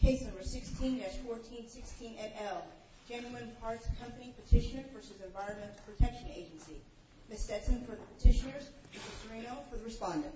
Case number 16-1416 et al. Genuine Parts Company petitioner v. Environmental Protection Agency. Ms. Stetson for the petitioners, Mr. Serino for the respondent.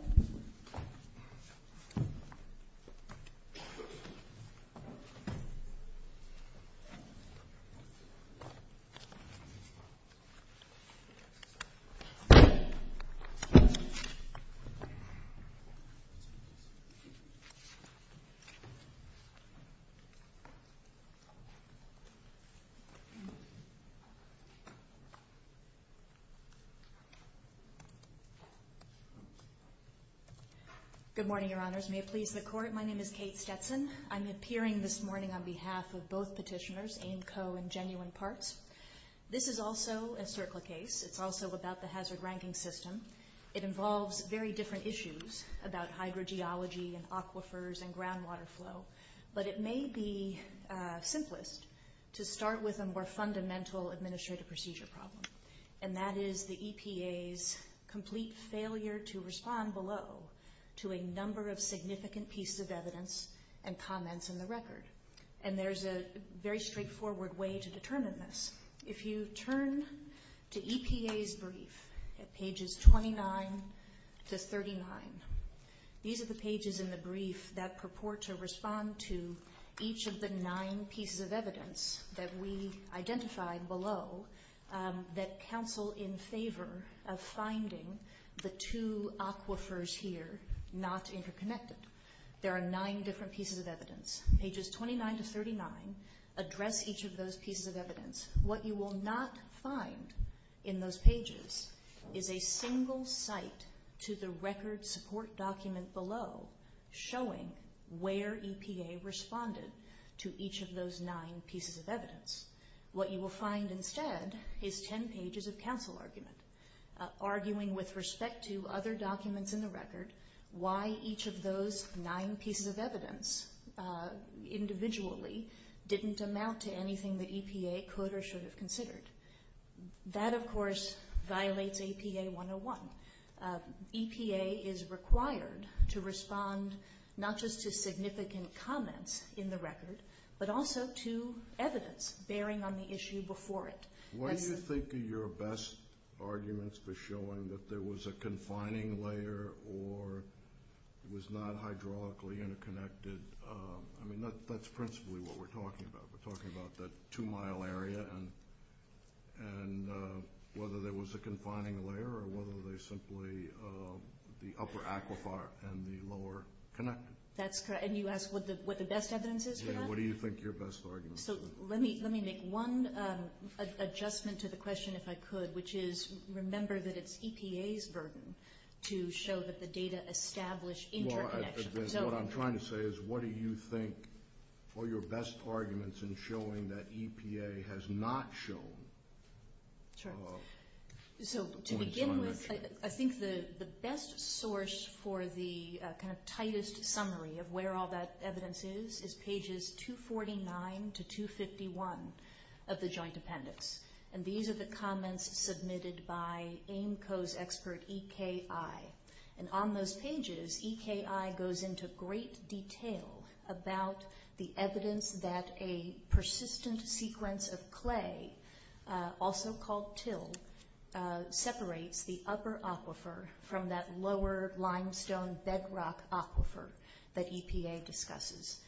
Good morning, Your Honors. May it please the Court, my name is Kate Stetson. I'm appearing this morning on behalf of both petitioners, AIMCO and Genuine Parts. This is also a CERCLA case. It's also about the hazard ranking system. It involves very different issues about hydrogeology and aquifers and groundwater flow. But it may be simplest to start with a more fundamental administrative procedure problem, and that is the EPA's complete failure to respond below to a number of significant pieces of evidence and comments in the record. And there's a very straightforward way to determine this. If you turn to EPA's brief at pages 29 to 39, these are the pages in the brief that purport to respond to each of the nine pieces of evidence that we identified below that counsel in favor of finding the two aquifers here not interconnected. There are nine different pieces of evidence. Pages 29 to 39 address each of those pieces of evidence. What you will not find in those pages is a single site to the record support document below showing where EPA responded to each of those nine pieces of evidence. What you will find instead is 10 pages of counsel argument, arguing with respect to other documents in the record why each of those nine pieces of evidence individually didn't amount to anything that EPA could or should have considered. That, of course, violates APA 101. EPA is required to respond not just to significant comments in the record, but also to evidence bearing on the issue before it. What do you think are your best arguments for showing that there was a confining layer or was not hydraulically interconnected? I mean, that's principally what we're talking about. We're talking about the two-mile area and whether there was a confining layer or whether they simply, the upper aquifer and the lower connected. That's correct. And you asked what the best evidence is for that? Yeah, what do you think your best arguments are? So let me make one adjustment to the question, if I could, which is remember that it's EPA's burden to show that the data establish interconnection. What I'm trying to say is what do you think are your best arguments in showing that EPA has not shown points of interaction? Sure. So to begin with, I think the best source for the kind of tightest summary of where all that evidence is is pages 249 to 251 of the joint appendix. And these are the comments into great detail about the evidence that a persistent sequence of clay, also called till, separates the upper aquifer from that lower limestone bedrock aquifer that EPA discusses.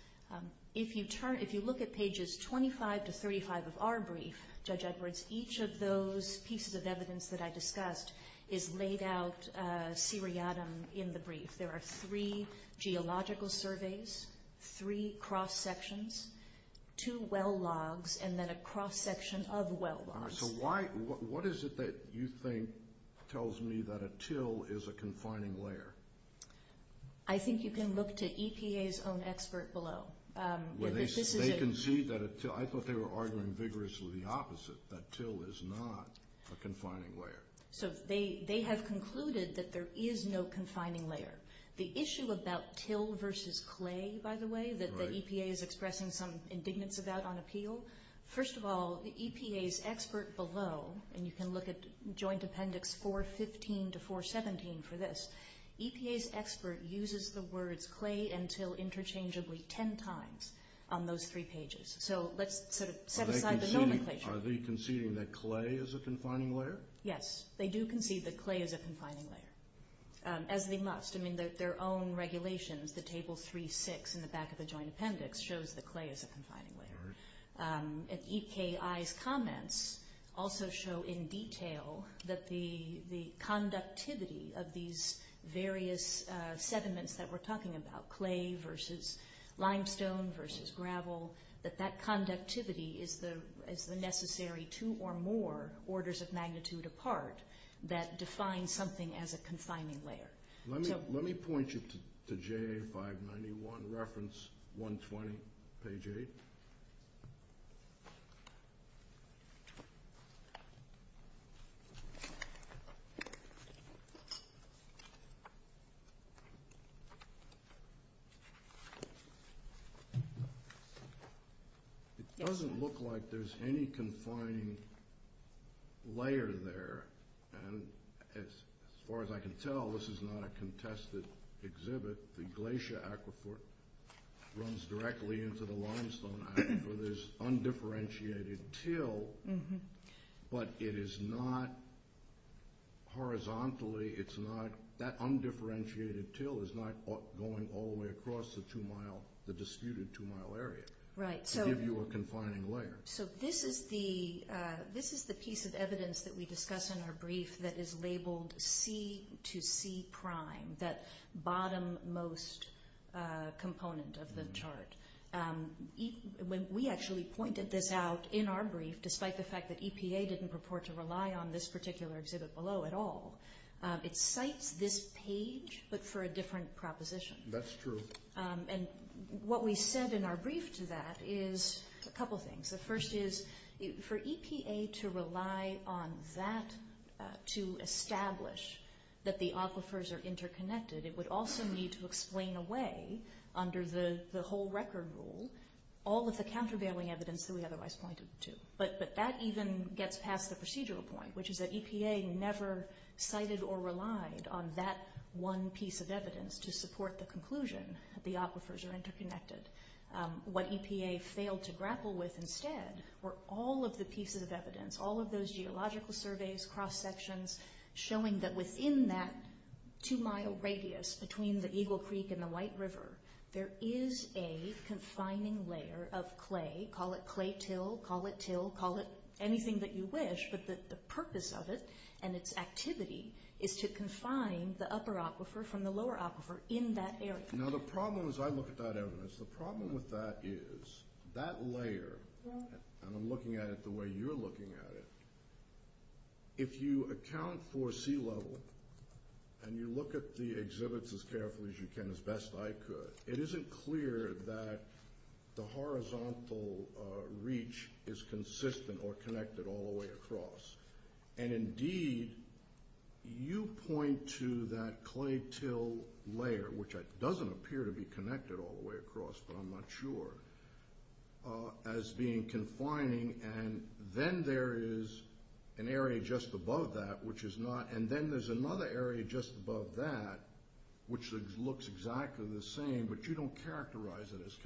If you look at pages 25 to 35 of our brief, Judge Edwards, each of those pieces of evidence that I discussed is laid out seriatim in the brief. There are three geological surveys, three cross-sections, two well logs, and then a cross-section of well logs. So what is it that you think tells me that a till is a confining layer? I think you can look to EPA's own expert below. I thought they were arguing vigorously the opposite, that till is not a confining layer. So they have concluded that there is no confining layer. The issue about till versus clay, by the way, that the EPA is expressing some indignance about on appeal, first of all, the EPA's expert below, and you can look at joint appendix 415 to 417 for this, EPA's expert uses the same terms on those three pages. So let's set aside the nomenclature. Are they conceding that clay is a confining layer? Yes, they do concede that clay is a confining layer, as they must. Their own regulations, the table 3-6 in the back of the joint appendix shows that clay is a confining layer. EKI's comments also show in detail that the conductivity of these various sediments that we're talking about, clay versus limestone versus gravel, that that conductivity is the necessary two or more orders of magnitude apart that define something as a confining layer. Let me point you to JA591, reference 120, page 8. It doesn't look like there's any confining layer there, and as far as I can tell, this is not a contested exhibit. The glacier aquifer runs directly into the limestone aquifer. There's undifferentiated till, but it is not horizontally, it's not, that undifferentiated till is not going all the way across the disputed two-mile area to give you a confining layer. So this is the piece of evidence that we discuss in our brief that is labeled C to C prime, that bottom most component of the chart. We actually pointed this out in our brief, despite the fact that EPA didn't purport to rely on this particular exhibit below at all. It cites this page, but for a different proposition. That's true. And what we said in our brief to that is a couple things. The first is, for EPA to rely on that to establish that the aquifers are interconnected, it would also need to explain away, under the whole record rule, all of the countervailing evidence that we otherwise pointed to. But that even gets past the procedural point, which is that EPA never cited or relied on that one piece of evidence to support the conclusion that the aquifers are interconnected. What EPA failed to grapple with instead were all of the pieces of evidence, all of those geological surveys, cross-sections, showing that within that two-mile radius between the Eagle Creek and the White River, there is a confining layer of clay, call it clay till, call it till, call it anything that you wish, but the purpose of it and its activity is to confine the upper aquifer from the lower aquifer in that area. Now the problem as I look at that evidence, the problem with that is, that layer, and I'm looking at it the way you're looking at it, if you account for sea level and you look at the exhibits as carefully as you can, as best I could, it isn't clear that the horizontal reach is consistent or connected all the way across. And indeed, you point to that clay till layer, which doesn't appear to be connected all the way across, but I'm not sure, as being confining, and then there is an area just above that, which is not, and then there's another area just above that, which looks exactly the same, but you don't characterize it as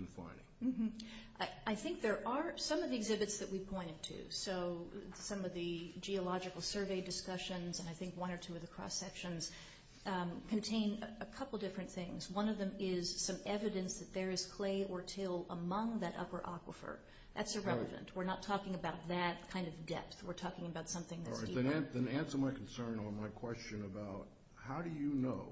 I think there are, some of the exhibits that we pointed to, so some of the geological survey discussions, and I think one or two of the cross sections, contain a couple different things. One of them is some evidence that there is clay or till among that upper aquifer. That's irrelevant. We're not talking about that kind of depth. We're talking about something that's deeper. Then answer my concern on my question about how do you know,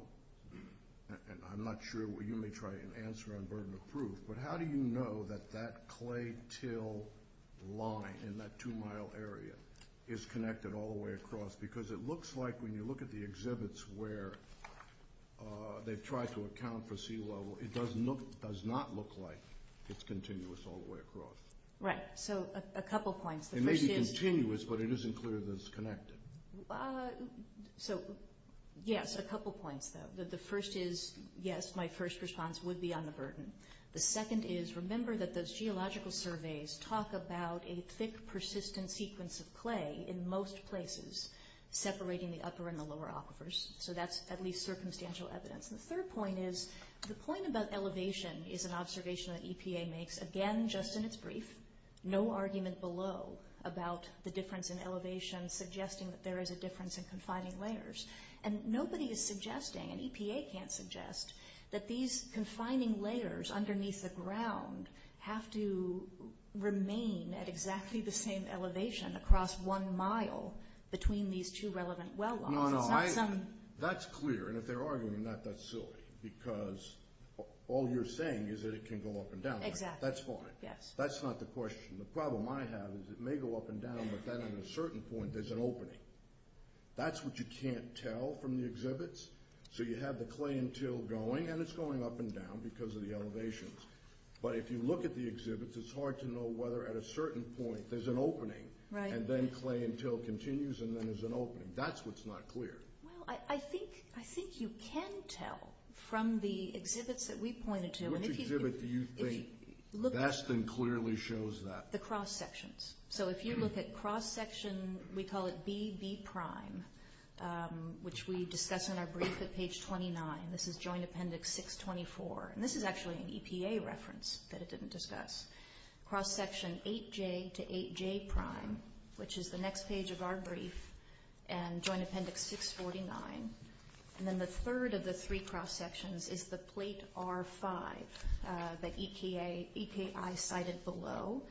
and I'm not sure, you may try to answer on burden of proof, but how do you know that that clay till line in that two mile area is connected all the way across, because it looks like when you look at the exhibits where they've tried to account for sea level, it does not look like it's continuous all the way across. Right, so a couple points. It may be continuous, but it isn't clear that it's connected. Yes, a couple points, though. The first is, yes, my first response would be on the burden. The second is, remember that those geological surveys talk about a thick, persistent sequence of clay in most places, separating the upper and the lower aquifers, so that's at least circumstantial evidence. The third point is, the point about elevation is an observation that EPA makes, again, just in its brief, no argument below about the difference in elevation suggesting that there is a difference in confining layers. Nobody is suggesting, and EPA can't suggest, that these confining layers underneath the ground have to remain at exactly the same elevation across one mile between these two relevant well lines. No, no, that's clear, and if they're arguing, that's silly, because all you're saying is that it can go up and down. Exactly. That's fine. Yes. That's not the question. The problem I have is it may go up and down, but then at a certain point, there's an opening. That's what you can't tell from the exhibits, so you have the clay and till going, and it's going up and down because of the elevations, but if you look at the exhibits, it's hard to know whether at a certain point there's an opening, and then clay and till continues, and then there's an opening. That's what's not clear. Well, I think you can tell from the exhibits that we pointed to. Which exhibit do you think best and clearly shows that? The cross sections. So if you look at cross section, we call it BB prime, which we discuss in our brief at page 29. This is joint appendix 624, and this is actually an EPA reference that it didn't discuss. Cross section 8J to 8J prime, which is the next page of our brief, and joint appendix 649, and then the third of the three cross sections is the plate R5 that EPA cited below.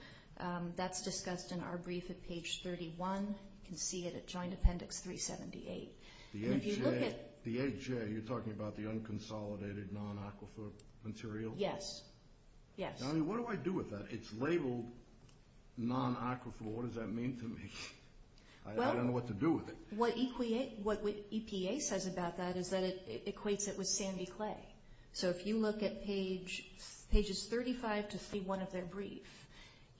That's discussed in our brief at page 31. You can see it at joint appendix 378. The 8J, you're talking about the unconsolidated non-aquifer material? Yes. What do I do with that? It's labeled non-aquifer. What does that mean to me? I don't know what to do with it. What EPA says about that is that it equates it with sandy clay. So if you look at pages 35 to 31 of their brief,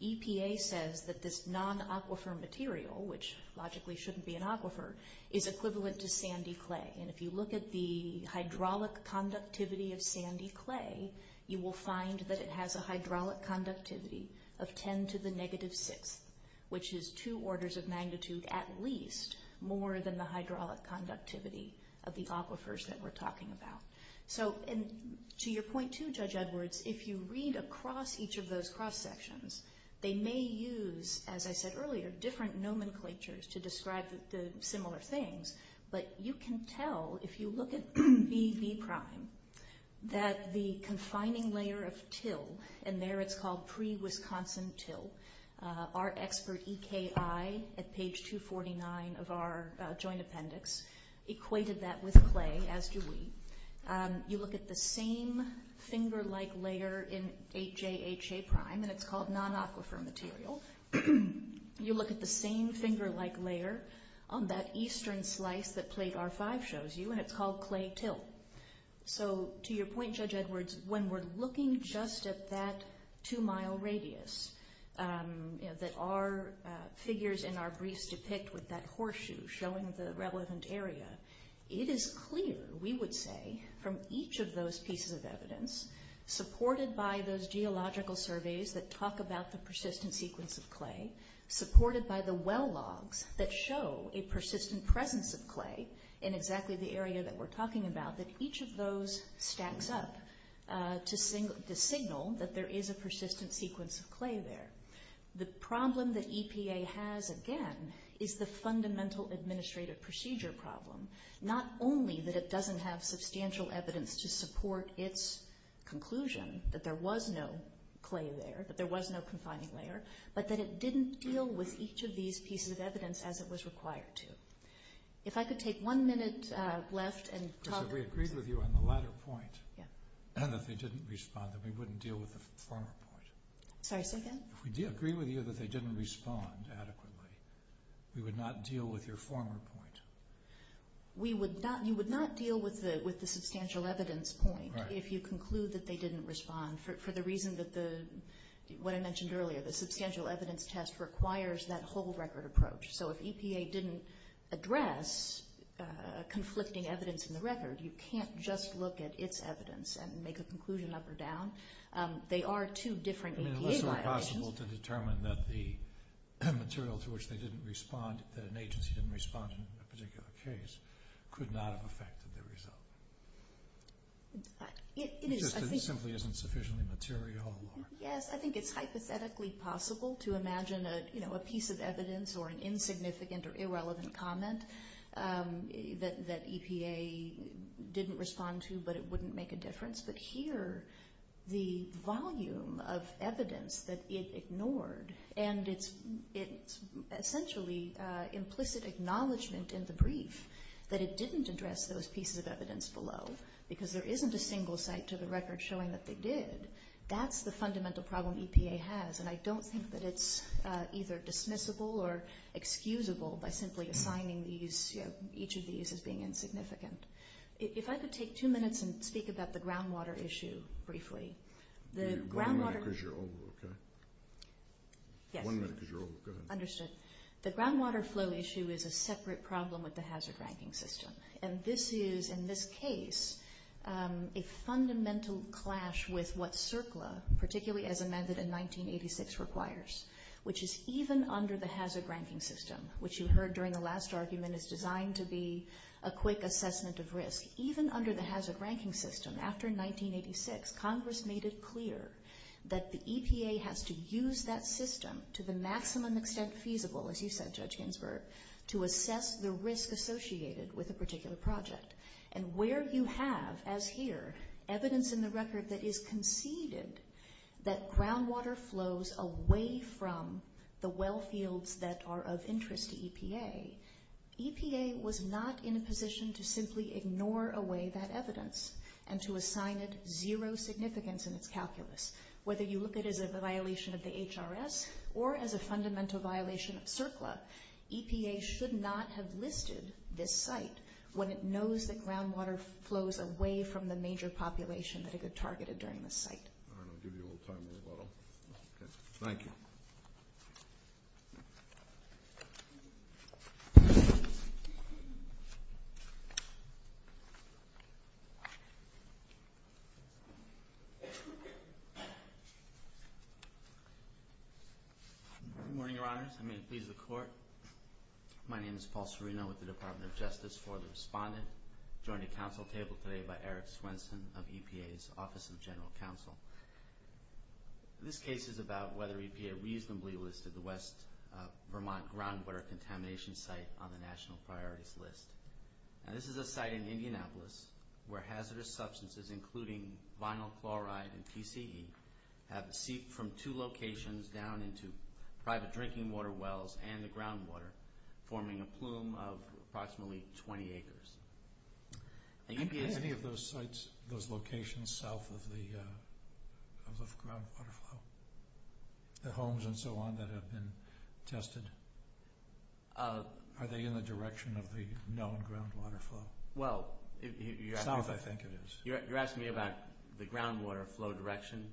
EPA says that this non-aquifer material, which logically shouldn't be an aquifer, is equivalent to sandy clay. And if you look at the hydraulic conductivity of sandy clay, you will find that it has a hydraulic conductivity of 10 to the negative sixth, which is two orders of magnitude at least more than the hydraulic conductivity of the aquifers that we're talking about. To your point, too, Judge Edwards, if you read across each of those cross sections, they may use, as I said earlier, different nomenclatures to describe the similar things, but you can tell, if you look at BB prime, that the confining layer of till, and there it's called pre-Wisconsin till. Our expert EKI at page 249 of our joint appendix equated that with clay, as do we. You look at the same finger-like layer in HAHA prime, and it's called non-aquifer material. You look at the same finger-like layer on that eastern slice that plate R5 shows you, and it's called clay till. So to your point, Judge Edwards, when we're looking just at that two-mile radius that our figures in our briefs depict with that horseshoe showing the relevant area, it is clear, we would say, from each of those pieces of evidence, supported by those geological surveys that talk about the persistent sequence of clay, supported by the well logs that show a persistent presence of clay in exactly the area that we're talking about, that each of those stacks up to signal that there is a persistent sequence of clay there. The problem that EPA has, again, is the fundamental administrative procedure problem. Not only that it doesn't have substantial evidence to support its conclusion that there was no clay there, that there was no confining layer, but that it didn't deal with each of these pieces of evidence as it was required to. If I could take one minute left and talk... We agreed with you on the latter point, that they didn't respond, that we wouldn't deal with the former point. Sorry, say again? If we agreed with you that they didn't respond adequately, we would not deal with your former point. You would not deal with the substantial evidence point if you conclude that they didn't respond, for the reason that the, what I mentioned earlier, the substantial evidence test requires that whole record approach. So if EPA didn't address conflicting evidence in the record, you can't just look at its evidence and make a conclusion up or down. They are two different EPA violations. Unless it were possible to determine that the material to which they didn't respond, that an agency didn't respond in a particular case, could not have affected the result. It is, I think... It simply isn't sufficiently material. Yes, I think it's hypothetically possible to imagine a piece of evidence or an insignificant or irrelevant comment that EPA didn't respond to, but it wouldn't make a difference. But here, the volume of evidence that it ignored, and it's essentially implicit acknowledgement in the brief that it didn't address those pieces of evidence below, because there isn't a single site to the record showing that they did. That's the fundamental problem EPA has, and I don't think that it's either dismissible or excusable by simply assigning each of these as being insignificant. If I could take two minutes and speak about the groundwater issue briefly. One minute because you're over, okay? Yes. One minute because you're over. Go ahead. Understood. The groundwater flow issue is a separate problem with the hazard ranking system, and this is, in this case, a fundamental clash with what CERCLA, particularly as amended in 1986, requires, which is even under the hazard ranking system, which you heard during the last argument is designed to be a quick assessment of risk. Even under the hazard ranking system, after 1986, Congress made it clear that the EPA has to use that system to the maximum extent feasible, as you said, Judge Ginsburg, to assess the risk associated with a particular project. And where you have, as here, evidence in the record that is conceded that groundwater flows away from the well fields that are of interest to EPA, EPA was not in a position to simply ignore away that evidence and to assign it zero significance in its calculus. Whether you look at it as a violation of the HRS or as a fundamental violation of CERCLA, EPA should not have listed this site when it knows that groundwater flows away from the major population that it had targeted during this site. All right, I'll give you a little time on the bottom. Thank you. Good morning, Your Honors. I may please the Court. My name is Paul Serino with the Department of Justice for the Respondent. I'm joined at Council table today by Eric Swenson of EPA. This case is about whether EPA reasonably listed the West Vermont groundwater contamination site on the national priorities list. Now, this is a site in Indianapolis where hazardous substances, including vinyl chloride and TCE, have seeped from two locations down into private drinking water wells and the groundwater, forming a plume of approximately 20 acres. Are any of those sites, those locations, south of the groundwater flow? The homes and so on that have been tested? Are they in the direction of the known groundwater flow? South, I think it is. You're asking me about the groundwater flow direction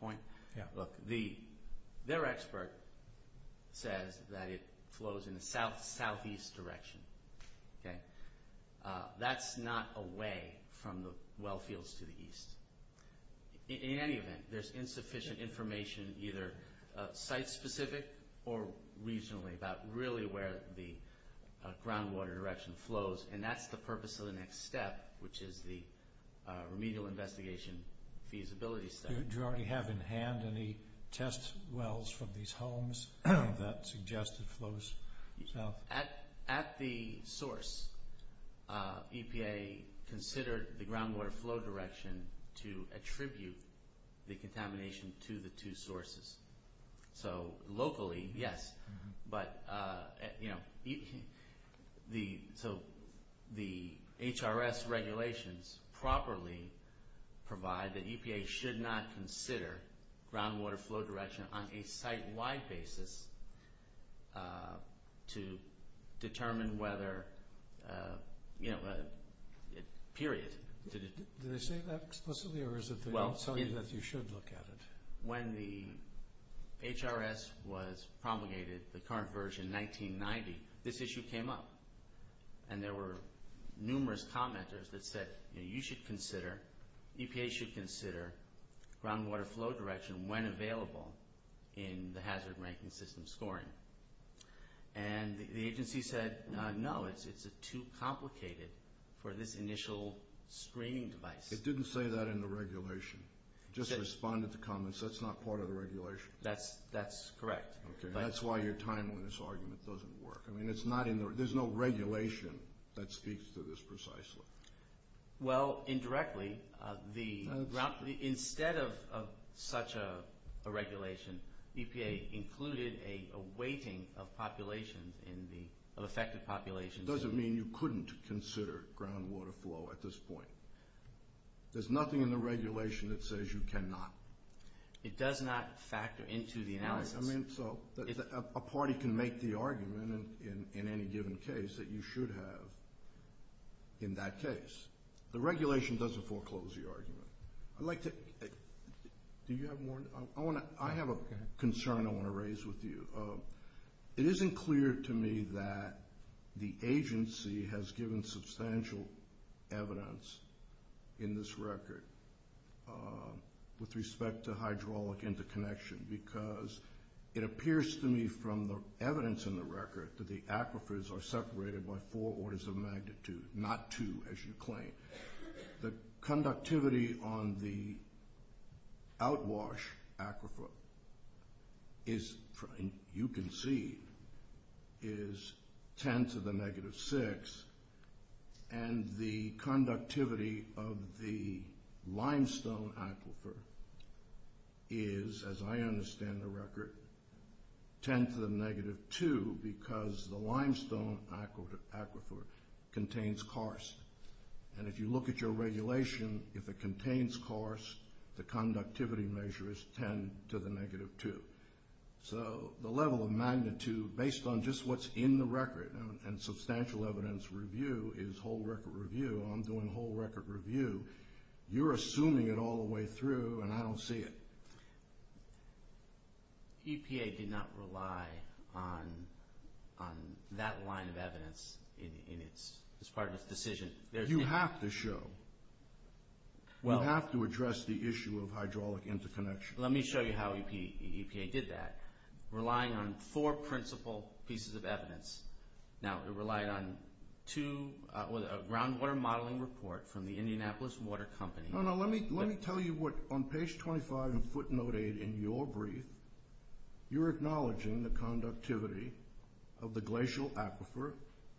point? Yeah. Look, their expert says that it flows in the southeast direction. That's not away from the well fields to the east. In any event, there's insufficient information, either site specific or regionally about really where the groundwater direction flows, and that's the purpose of the next step, which is the remedial investigation feasibility study. Do you already have in hand any test wells from these homes that suggest it flows south? At the source, EPA considered the groundwater flow direction to attribute the contamination to the two sources. So, locally, yes. But, you know, so the HRS regulations properly provide that EPA should not consider groundwater flow direction on a site-wide basis to determine whether, you know, period. Did they say that explicitly, or is it that you should look at it? When the HRS was promulgated, the current version, 1990, this issue came up. And there were numerous commenters that said, you know, you should consider, EPA should consider groundwater flow direction when available in the hazard ranking system scoring. And the agency said, no, it's too complicated for this initial screening device. It didn't say that in the regulation. Just respond to the comments. That's not part of the regulation. That's correct. Okay, that's why your time on this argument doesn't work. I mean, it's not in the, there's no regulation that speaks to this precisely. Well, indirectly, the, instead of such a regulation, EPA included a weighting of population in the, of affected populations. It doesn't mean you couldn't consider groundwater flow at this point. There's nothing in the regulation that says you cannot. It does not factor into the analysis. I mean, so, a party can make the argument in any given case that you should have in that case. The regulation doesn't foreclose the argument. I'd like to, do you have more? I want to, I have a concern I want to raise with you. It isn't clear to me that the agency has given substantial evidence in this record with respect to hydraulic interconnection because it appears to me from the evidence in the record that the aquifers are separated by four orders of magnitude, not two as you claim. The conductivity on the outwash aquifer is, you can see, is 10 to the negative 6, and the conductivity of the limestone aquifer is, as I understand the record, 10 to the negative 2 because the limestone aquifer contains karst, and if you look at your regulation, if it contains karst, the conductivity measure is 10 to the negative 2. So, the level of magnitude, based on just what's in the record, and substantial evidence review, is whole record review. I'm doing whole record review. You're assuming it all the way through, and I don't see it. EPA did not rely on that line of evidence as part of its decision. You have to show. You have to address the issue of hydraulic interconnection. Let me show you how EPA did that, relying on four principal pieces of evidence. Now, it relied on a groundwater modeling report from the Indianapolis Water Company. No, no, let me tell you what, on page 25 in footnote 8 in your brief, you're acknowledging the conductivity of the glacial aquifer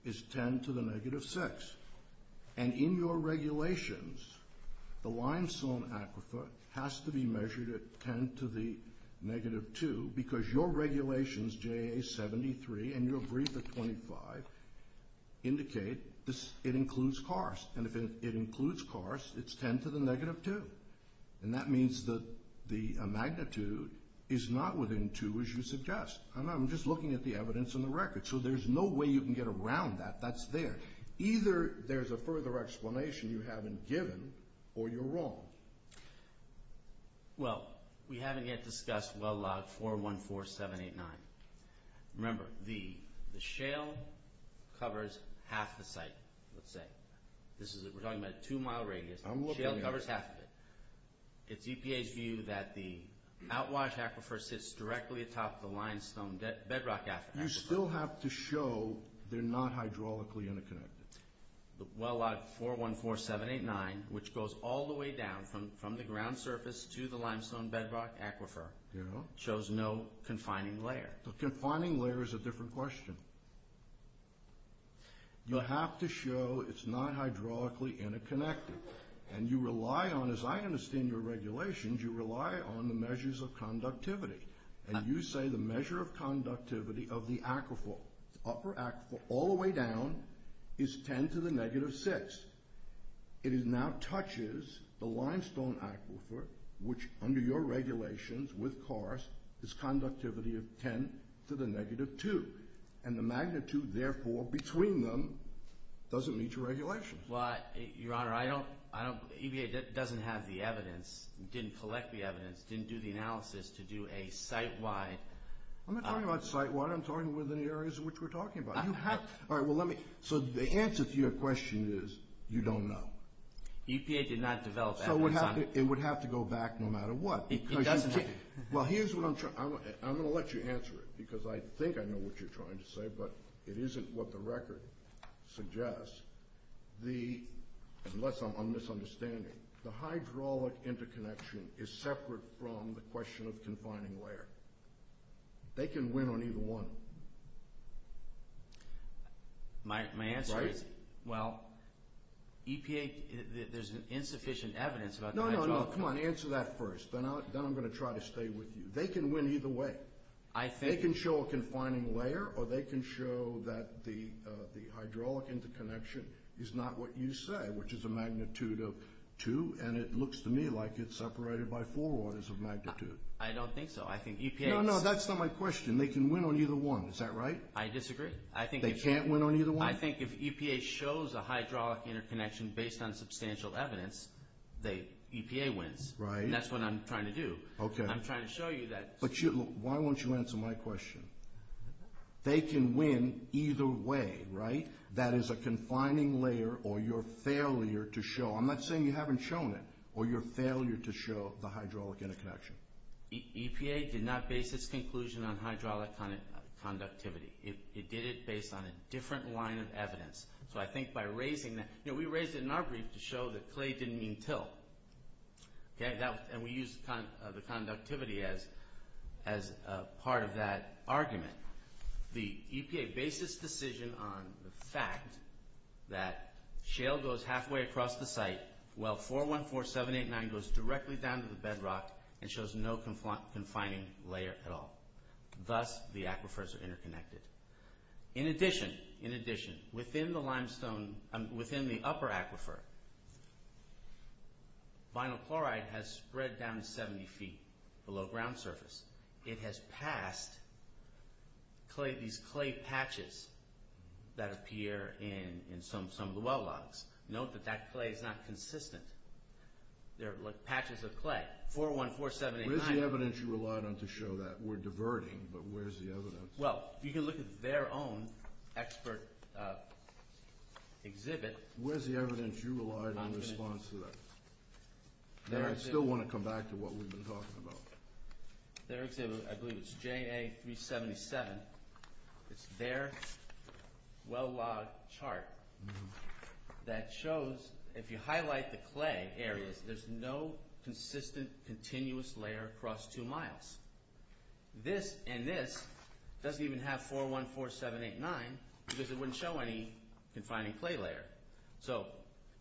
is 10 to the negative 6, and in your regulations, the limestone aquifer has to be measured at 10 to the negative 2 because your regulations, JA 73, and your brief at 25, indicate it includes karst, and if it includes karst, it's 10 to the negative 2, and that means that the magnitude is not within 2, as you suggest. I'm just looking at the evidence in the record, so there's no way you can get around that. That's there. Either there's a further explanation you haven't given, or you're wrong. Well, we haven't yet discussed well log 414789. Remember, the shale covers half the site, let's say. We're talking about a 2-mile radius. Shale covers half of it. It's EPA's view that the outwash aquifer sits directly atop the limestone bedrock aquifer. You still have to show they're not hydraulically interconnected. Well log 414789, which goes all the way down from the ground surface to the limestone bedrock aquifer, shows no confining layer. The confining layer is a different question. You have to show it's not hydraulically interconnected, and you rely on, as I understand your regulations, you rely on the measures of conductivity, and you say the measure of conductivity of the aquifer, the upper aquifer all the way down, is 10 to the negative 6. It now touches the limestone aquifer, which under your regulations with karst, is conductivity of 10 to the negative 2, and the magnitude, therefore, between them doesn't meet your regulations. Your Honor, EPA doesn't have the evidence, didn't collect the evidence, didn't do the analysis to do a site-wide… I'm not talking about site-wide. I'm talking within the areas in which we're talking about. So the answer to your question is you don't know. EPA did not develop that. So it would have to go back no matter what. It doesn't. Well, here's what I'm trying to—I'm going to let you answer it because I think I know what you're trying to say, but it isn't what the record suggests. Unless I'm misunderstanding, the hydraulic interconnection is separate from the question of confining layer. They can win on either one. My answer is, well, EPA— there's insufficient evidence about the hydraulic… No, no, no. Come on. Answer that first. Then I'm going to try to stay with you. They can win either way. They can show a confining layer, or they can show that the hydraulic interconnection is not what you say, which is a magnitude of two, and it looks to me like it's separated by four orders of magnitude. I don't think so. I think EPA… No, no, that's not my question. They can win on either one. Is that right? I disagree. They can't win on either one? I think if EPA shows a hydraulic interconnection based on substantial evidence, EPA wins. Right. And that's what I'm trying to do. Okay. I'm trying to show you that… But why won't you answer my question? They can win either way, right? That is a confining layer or your failure to show. I'm not saying you haven't shown it, or your failure to show the hydraulic interconnection. EPA did not base its conclusion on hydraulic conductivity. It did it based on a different line of evidence. So I think by raising that… We raised it in our brief to show that clay didn't mean till, and we used the conductivity as part of that argument. The EPA based its decision on the fact that shale goes halfway across the site while 414789 goes directly down to the bedrock and shows no confining layer at all. Thus, the aquifers are interconnected. In addition, within the upper aquifer, vinyl chloride has spread down 70 feet below ground surface. It has passed these clay patches that appear in some of the well logs. Note that that clay is not consistent. They're patches of clay, 414789. Where's the evidence you relied on to show that? We're diverting, but where's the evidence? Well, you can look at their own expert exhibit. Where's the evidence you relied on in response to that? I still want to come back to what we've been talking about. Their exhibit, I believe it's JA377. It's their well log chart that shows if you highlight the clay areas, there's no consistent, continuous layer across two miles. This and this doesn't even have 414789 because it wouldn't show any confining clay layer. So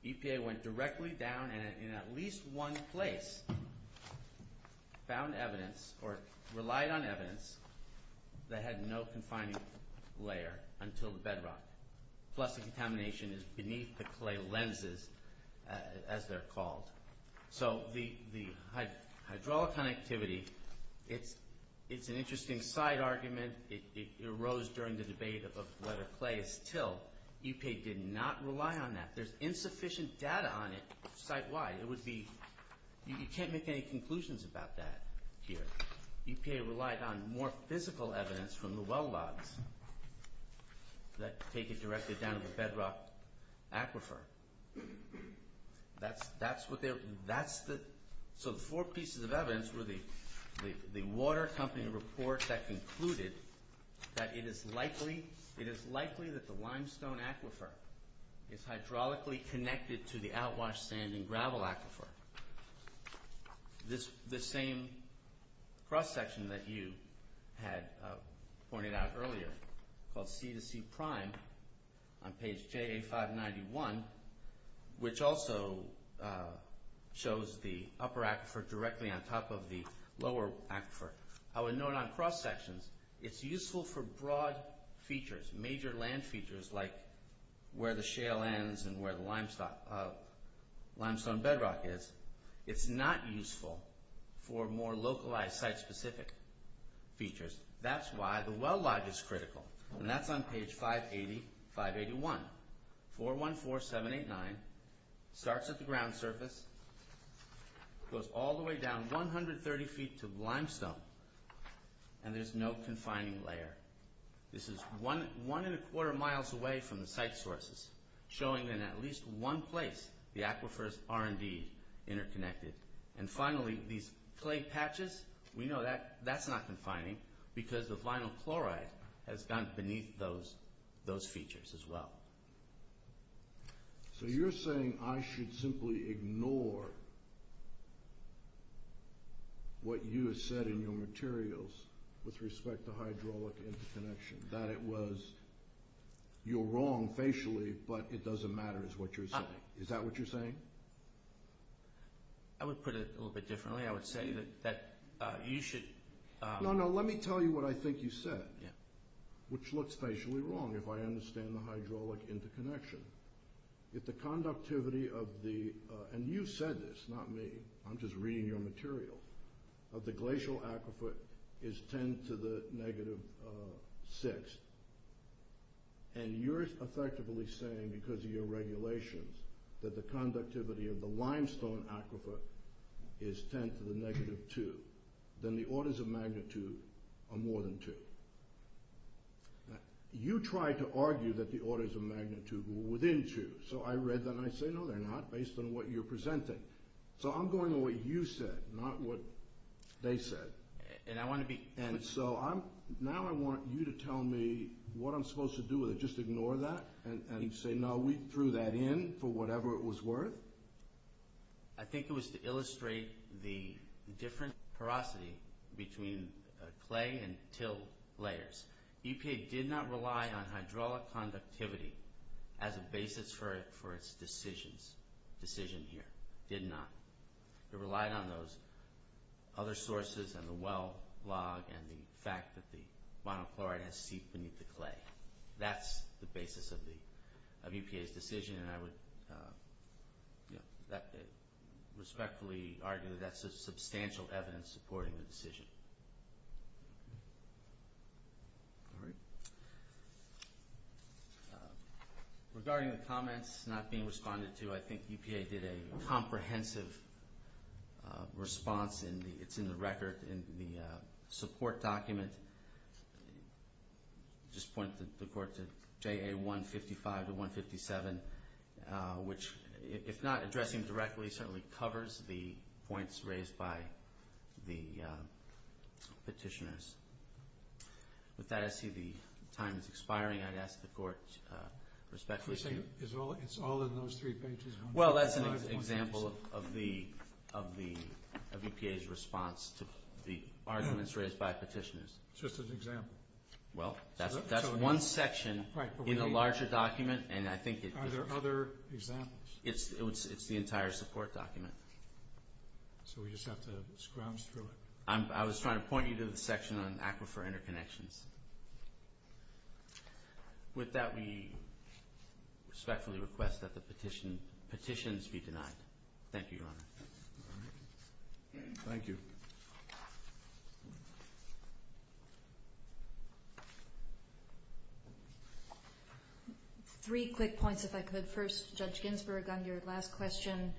EPA went directly down and in at least one place found evidence or relied on evidence that had no confining layer until the bedrock. Plus the contamination is beneath the clay lenses, as they're called. So the hydraulic connectivity, it's an interesting side argument. It arose during the debate of whether clay is till. EPA did not rely on that. There's insufficient data on it site-wide. You can't make any conclusions about that here. EPA relied on more physical evidence from the well logs that take it directly down to the bedrock aquifer. That's what they're... So the four pieces of evidence were the water company report that concluded that it is likely that the limestone aquifer is hydraulically connected to the outwash sand and gravel aquifer. The same cross-section that you had pointed out earlier called C to C prime on page JA591, which also shows the upper aquifer directly on top of the lower aquifer. I would note on cross-sections, it's useful for broad features, major land features like where the shale ends and where the limestone bedrock is. It's not useful for more localized site-specific features. That's why the well log is critical. And that's on page 580, 581, 414789. It starts at the ground surface, goes all the way down 130 feet to the limestone, and there's no confining layer. This is 1 1⁄4 miles away from the site sources, showing in at least one place the aquifers are indeed interconnected. And finally, these clay patches, we know that's not confining. Because the vinyl chloride has gone beneath those features as well. So you're saying I should simply ignore what you have said in your materials with respect to hydraulic interconnection, that it was you're wrong facially, but it doesn't matter is what you're saying. Is that what you're saying? I would put it a little bit differently. I would say that you should... No, no, let me tell you what I think you said, which looks facially wrong if I understand the hydraulic interconnection. If the conductivity of the, and you said this, not me, I'm just reading your material, of the glacial aquifer is 10 to the negative 6, and you're effectively saying because of your regulations that the conductivity of the limestone aquifer is 10 to the negative 2, then the orders of magnitude are more than 2. You tried to argue that the orders of magnitude were within 2, so I read that and I say no they're not, based on what you're presenting. So I'm going with what you said, not what they said. And I want to be... And so now I want you to tell me what I'm supposed to do with it, just ignore that and say no, we threw that in for whatever it was worth? I think it was to illustrate the different porosity between clay and till layers. EPA did not rely on hydraulic conductivity as a basis for its decision here, did not. It relied on those other sources and the well log and the fact that the monochloride has seeped beneath the clay. That's the basis of EPA's decision, and I would respectfully argue that's a substantial evidence supporting the decision. All right. Regarding the comments not being responded to, I think EPA did a comprehensive response, and it's in the record in the support document. I'll just point the court to JA 155 to 157, which, if not addressing directly, certainly covers the points raised by the petitioners. With that, I see the time is expiring. I'd ask the court to respectfully... It's all in those three pages. Well, that's an example of EPA's response to the arguments raised by petitioners. It's just an example. Well, that's one section in a larger document, and I think it... Are there other examples? It's the entire support document. So we just have to scrounge through it? I was trying to point you to the section on aquifer interconnections. With that, we respectfully request that the petitions be denied. Thank you, Your Honor. Thank you. Three quick points, if I could. First, Judge Ginsburg, on your last question,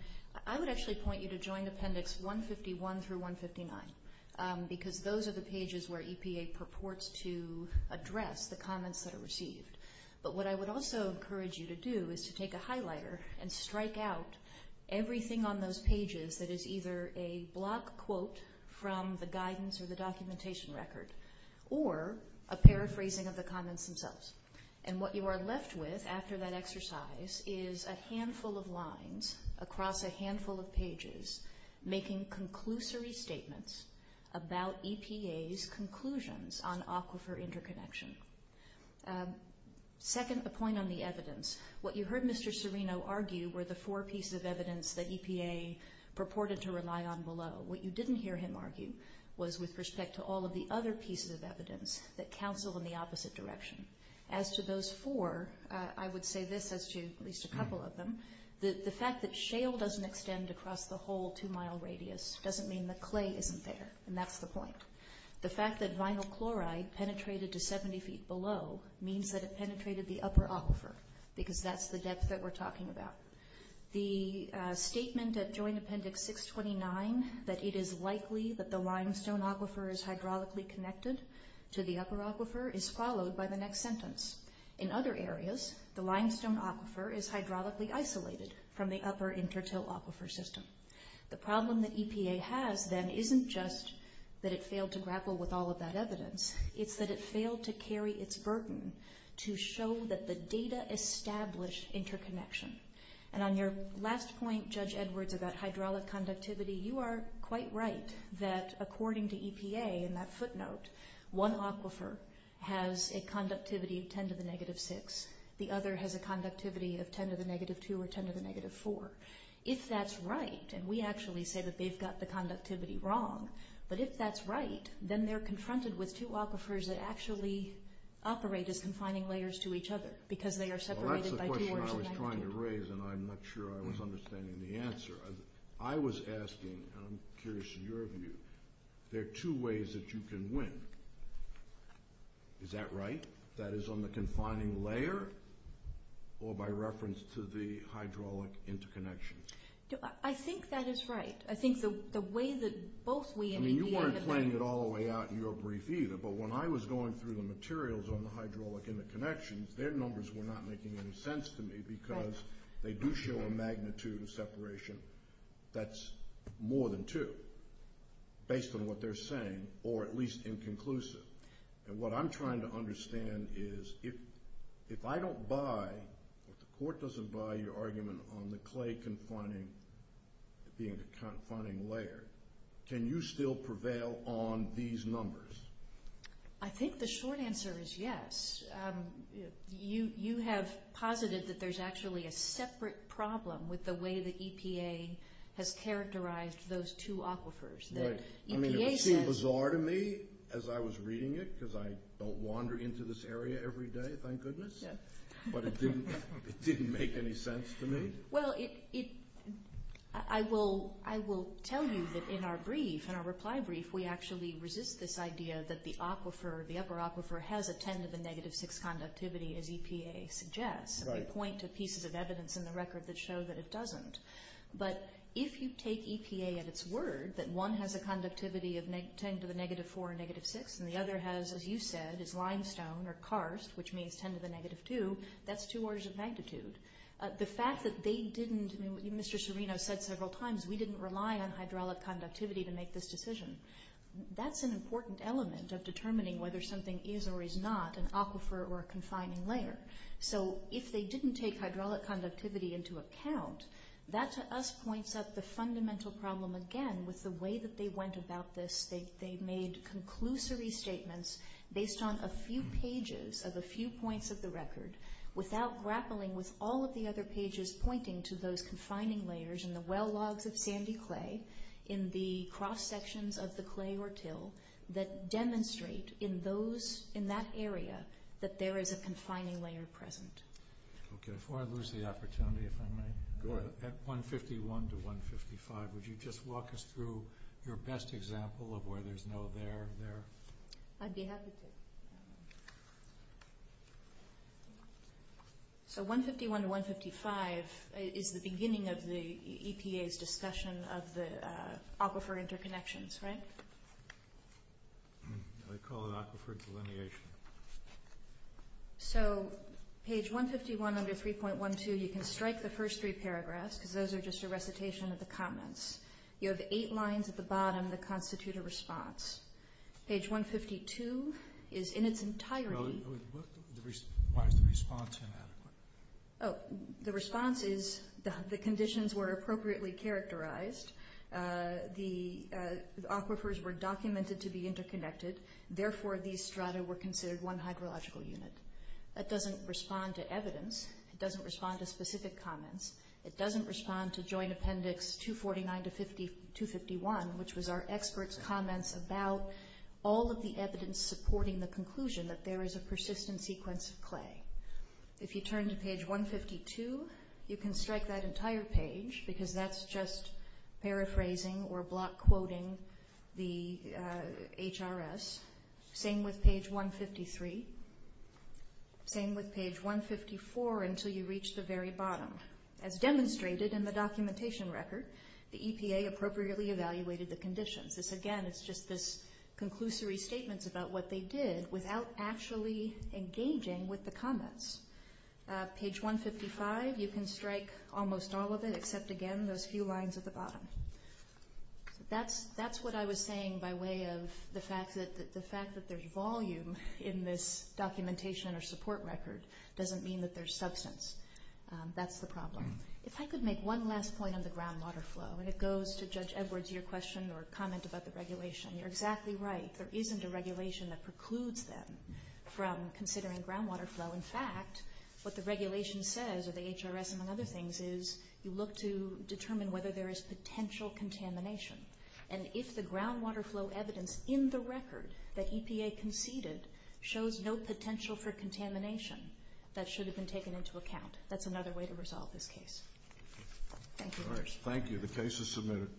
I would actually point you to Joint Appendix 151 through 159, because those are the pages where EPA purports to address the comments that are received. But what I would also encourage you to do is to take a highlighter and strike out everything on those pages that is either a block quote from the guidance or the documentation record or a paraphrasing of the comments themselves. And what you are left with after that exercise is a handful of lines across a handful of pages making conclusory statements about EPA's conclusions on aquifer interconnection. Second, a point on the evidence. What you heard Mr. Serino argue were the four pieces of evidence that EPA purported to rely on below. What you didn't hear him argue was with respect to all of the other pieces of evidence that counsel in the opposite direction. As to those four, I would say this as to at least a couple of them. The fact that shale doesn't extend across the whole two-mile radius doesn't mean that clay isn't there, and that's the point. The fact that vinyl chloride penetrated to 70 feet below means that it penetrated the upper aquifer, because that's the depth that we're talking about. The statement at Joint Appendix 629 that it is likely that the limestone aquifer is hydraulically connected to the upper aquifer is followed by the next sentence. In other areas, the limestone aquifer is hydraulically isolated from the upper intertill aquifer system. The problem that EPA has then isn't just that it failed to grapple with all of that evidence. It's that it failed to carry its burden to show that the data established interconnection. And on your last point, Judge Edwards, about hydraulic conductivity, you are quite right that according to EPA in that footnote, one aquifer has a conductivity of 10 to the negative 6. The other has a conductivity of 10 to the negative 2 or 10 to the negative 4. If that's right, and we actually say that they've got the conductivity wrong, but if that's right, then they're confronted with two aquifers that actually operate as confining layers to each other because they are separated by 2 orders of magnitude. Well, that's the question I was trying to raise and I'm not sure I was understanding the answer. I was asking, and I'm curious of your view, there are two ways that you can win. Is that right? That is on the confining layer or by reference to the hydraulic interconnection? I think that is right. I think the way that both we and EPA have... I didn't read it all the way out in your brief either, but when I was going through the materials on the hydraulic interconnections, their numbers were not making any sense to me because they do show a magnitude of separation that's more than 2, based on what they're saying, or at least inconclusive. What I'm trying to understand is if I don't buy, if the court doesn't buy your argument on the clay being a confining layer, can you still prevail on these numbers? I think the short answer is yes. You have posited that there's actually a separate problem with the way that EPA has characterized those two aquifers. Right. I mean, it would seem bizarre to me as I was reading it because I don't wander into this area every day, thank goodness, but it didn't make any sense to me. Well, it... I will tell you that in our brief, in our reply brief, we actually resist this idea that the aquifer, the upper aquifer, has a 10 to the negative 6 conductivity, as EPA suggests. We point to pieces of evidence in the record that show that it doesn't. But if you take EPA at its word that one has a conductivity of 10 to the negative 4 or negative 6 and the other has, as you said, is limestone or karst, which means 10 to the negative 2, that's two orders of magnitude. The fact that they didn't... Mr. Serino said several times, we didn't rely on hydraulic conductivity to make this decision. That's an important element of determining whether something is or is not an aquifer or a confining layer. So if they didn't take hydraulic conductivity into account, that to us points up the fundamental problem again with the way that they went about this. They made conclusory statements based on a few pages of a few points of the record without grappling with all of the other pages pointing to those confining layers in the well logs of sandy clay, in the cross sections of the clay or till that demonstrate in that area that there is a confining layer present. Okay, before I lose the opportunity, if I may, at 151 to 155, would you just walk us through your best example of where there's no there there? I'd be happy to. So 151 to 155 is the beginning of the EPA's discussion of the aquifer interconnections, right? I call it aquifer delineation. So page 151 under 3.12, you can strike the first three paragraphs because those are just a recitation of the comments. You have eight lines at the bottom that constitute a response. Page 152 is in its entirety... Why is the response inadequate? Oh, the response is the conditions were appropriately characterized. The aquifers were documented to be interconnected. Therefore, these strata were considered one hydrological unit. That doesn't respond to evidence. It doesn't respond to specific comments. It doesn't respond to Joint Appendix 249 to 251, which was our experts' comments about all of the evidence supporting the conclusion that there is a persistent sequence of clay. If you turn to page 152, you can strike that entire page because that's just paraphrasing or block-quoting the HRS. Same with page 153. Same with page 154 until you reach the very bottom. As demonstrated in the documentation record, the EPA appropriately evaluated the conditions. Again, it's just this conclusory statements about what they did without actually engaging with the comments. Page 155, you can strike almost all of it, except, again, those few lines at the bottom. That's what I was saying by way of the fact that the fact that there's volume in this documentation or support record doesn't mean that there's substance. That's the problem. If I could make one last point on the groundwater flow, and it goes to Judge Edwards' question or comment about the regulation, you're exactly right. There isn't a regulation that precludes them from considering groundwater flow. In fact, what the regulation says, or the HRS, among other things, is you look to determine whether there is potential contamination. And if the groundwater flow evidence in the record that EPA conceded shows no potential for contamination, that should have been taken into account. That's another way to resolve this case. Thank you. Thank you. The case is submitted.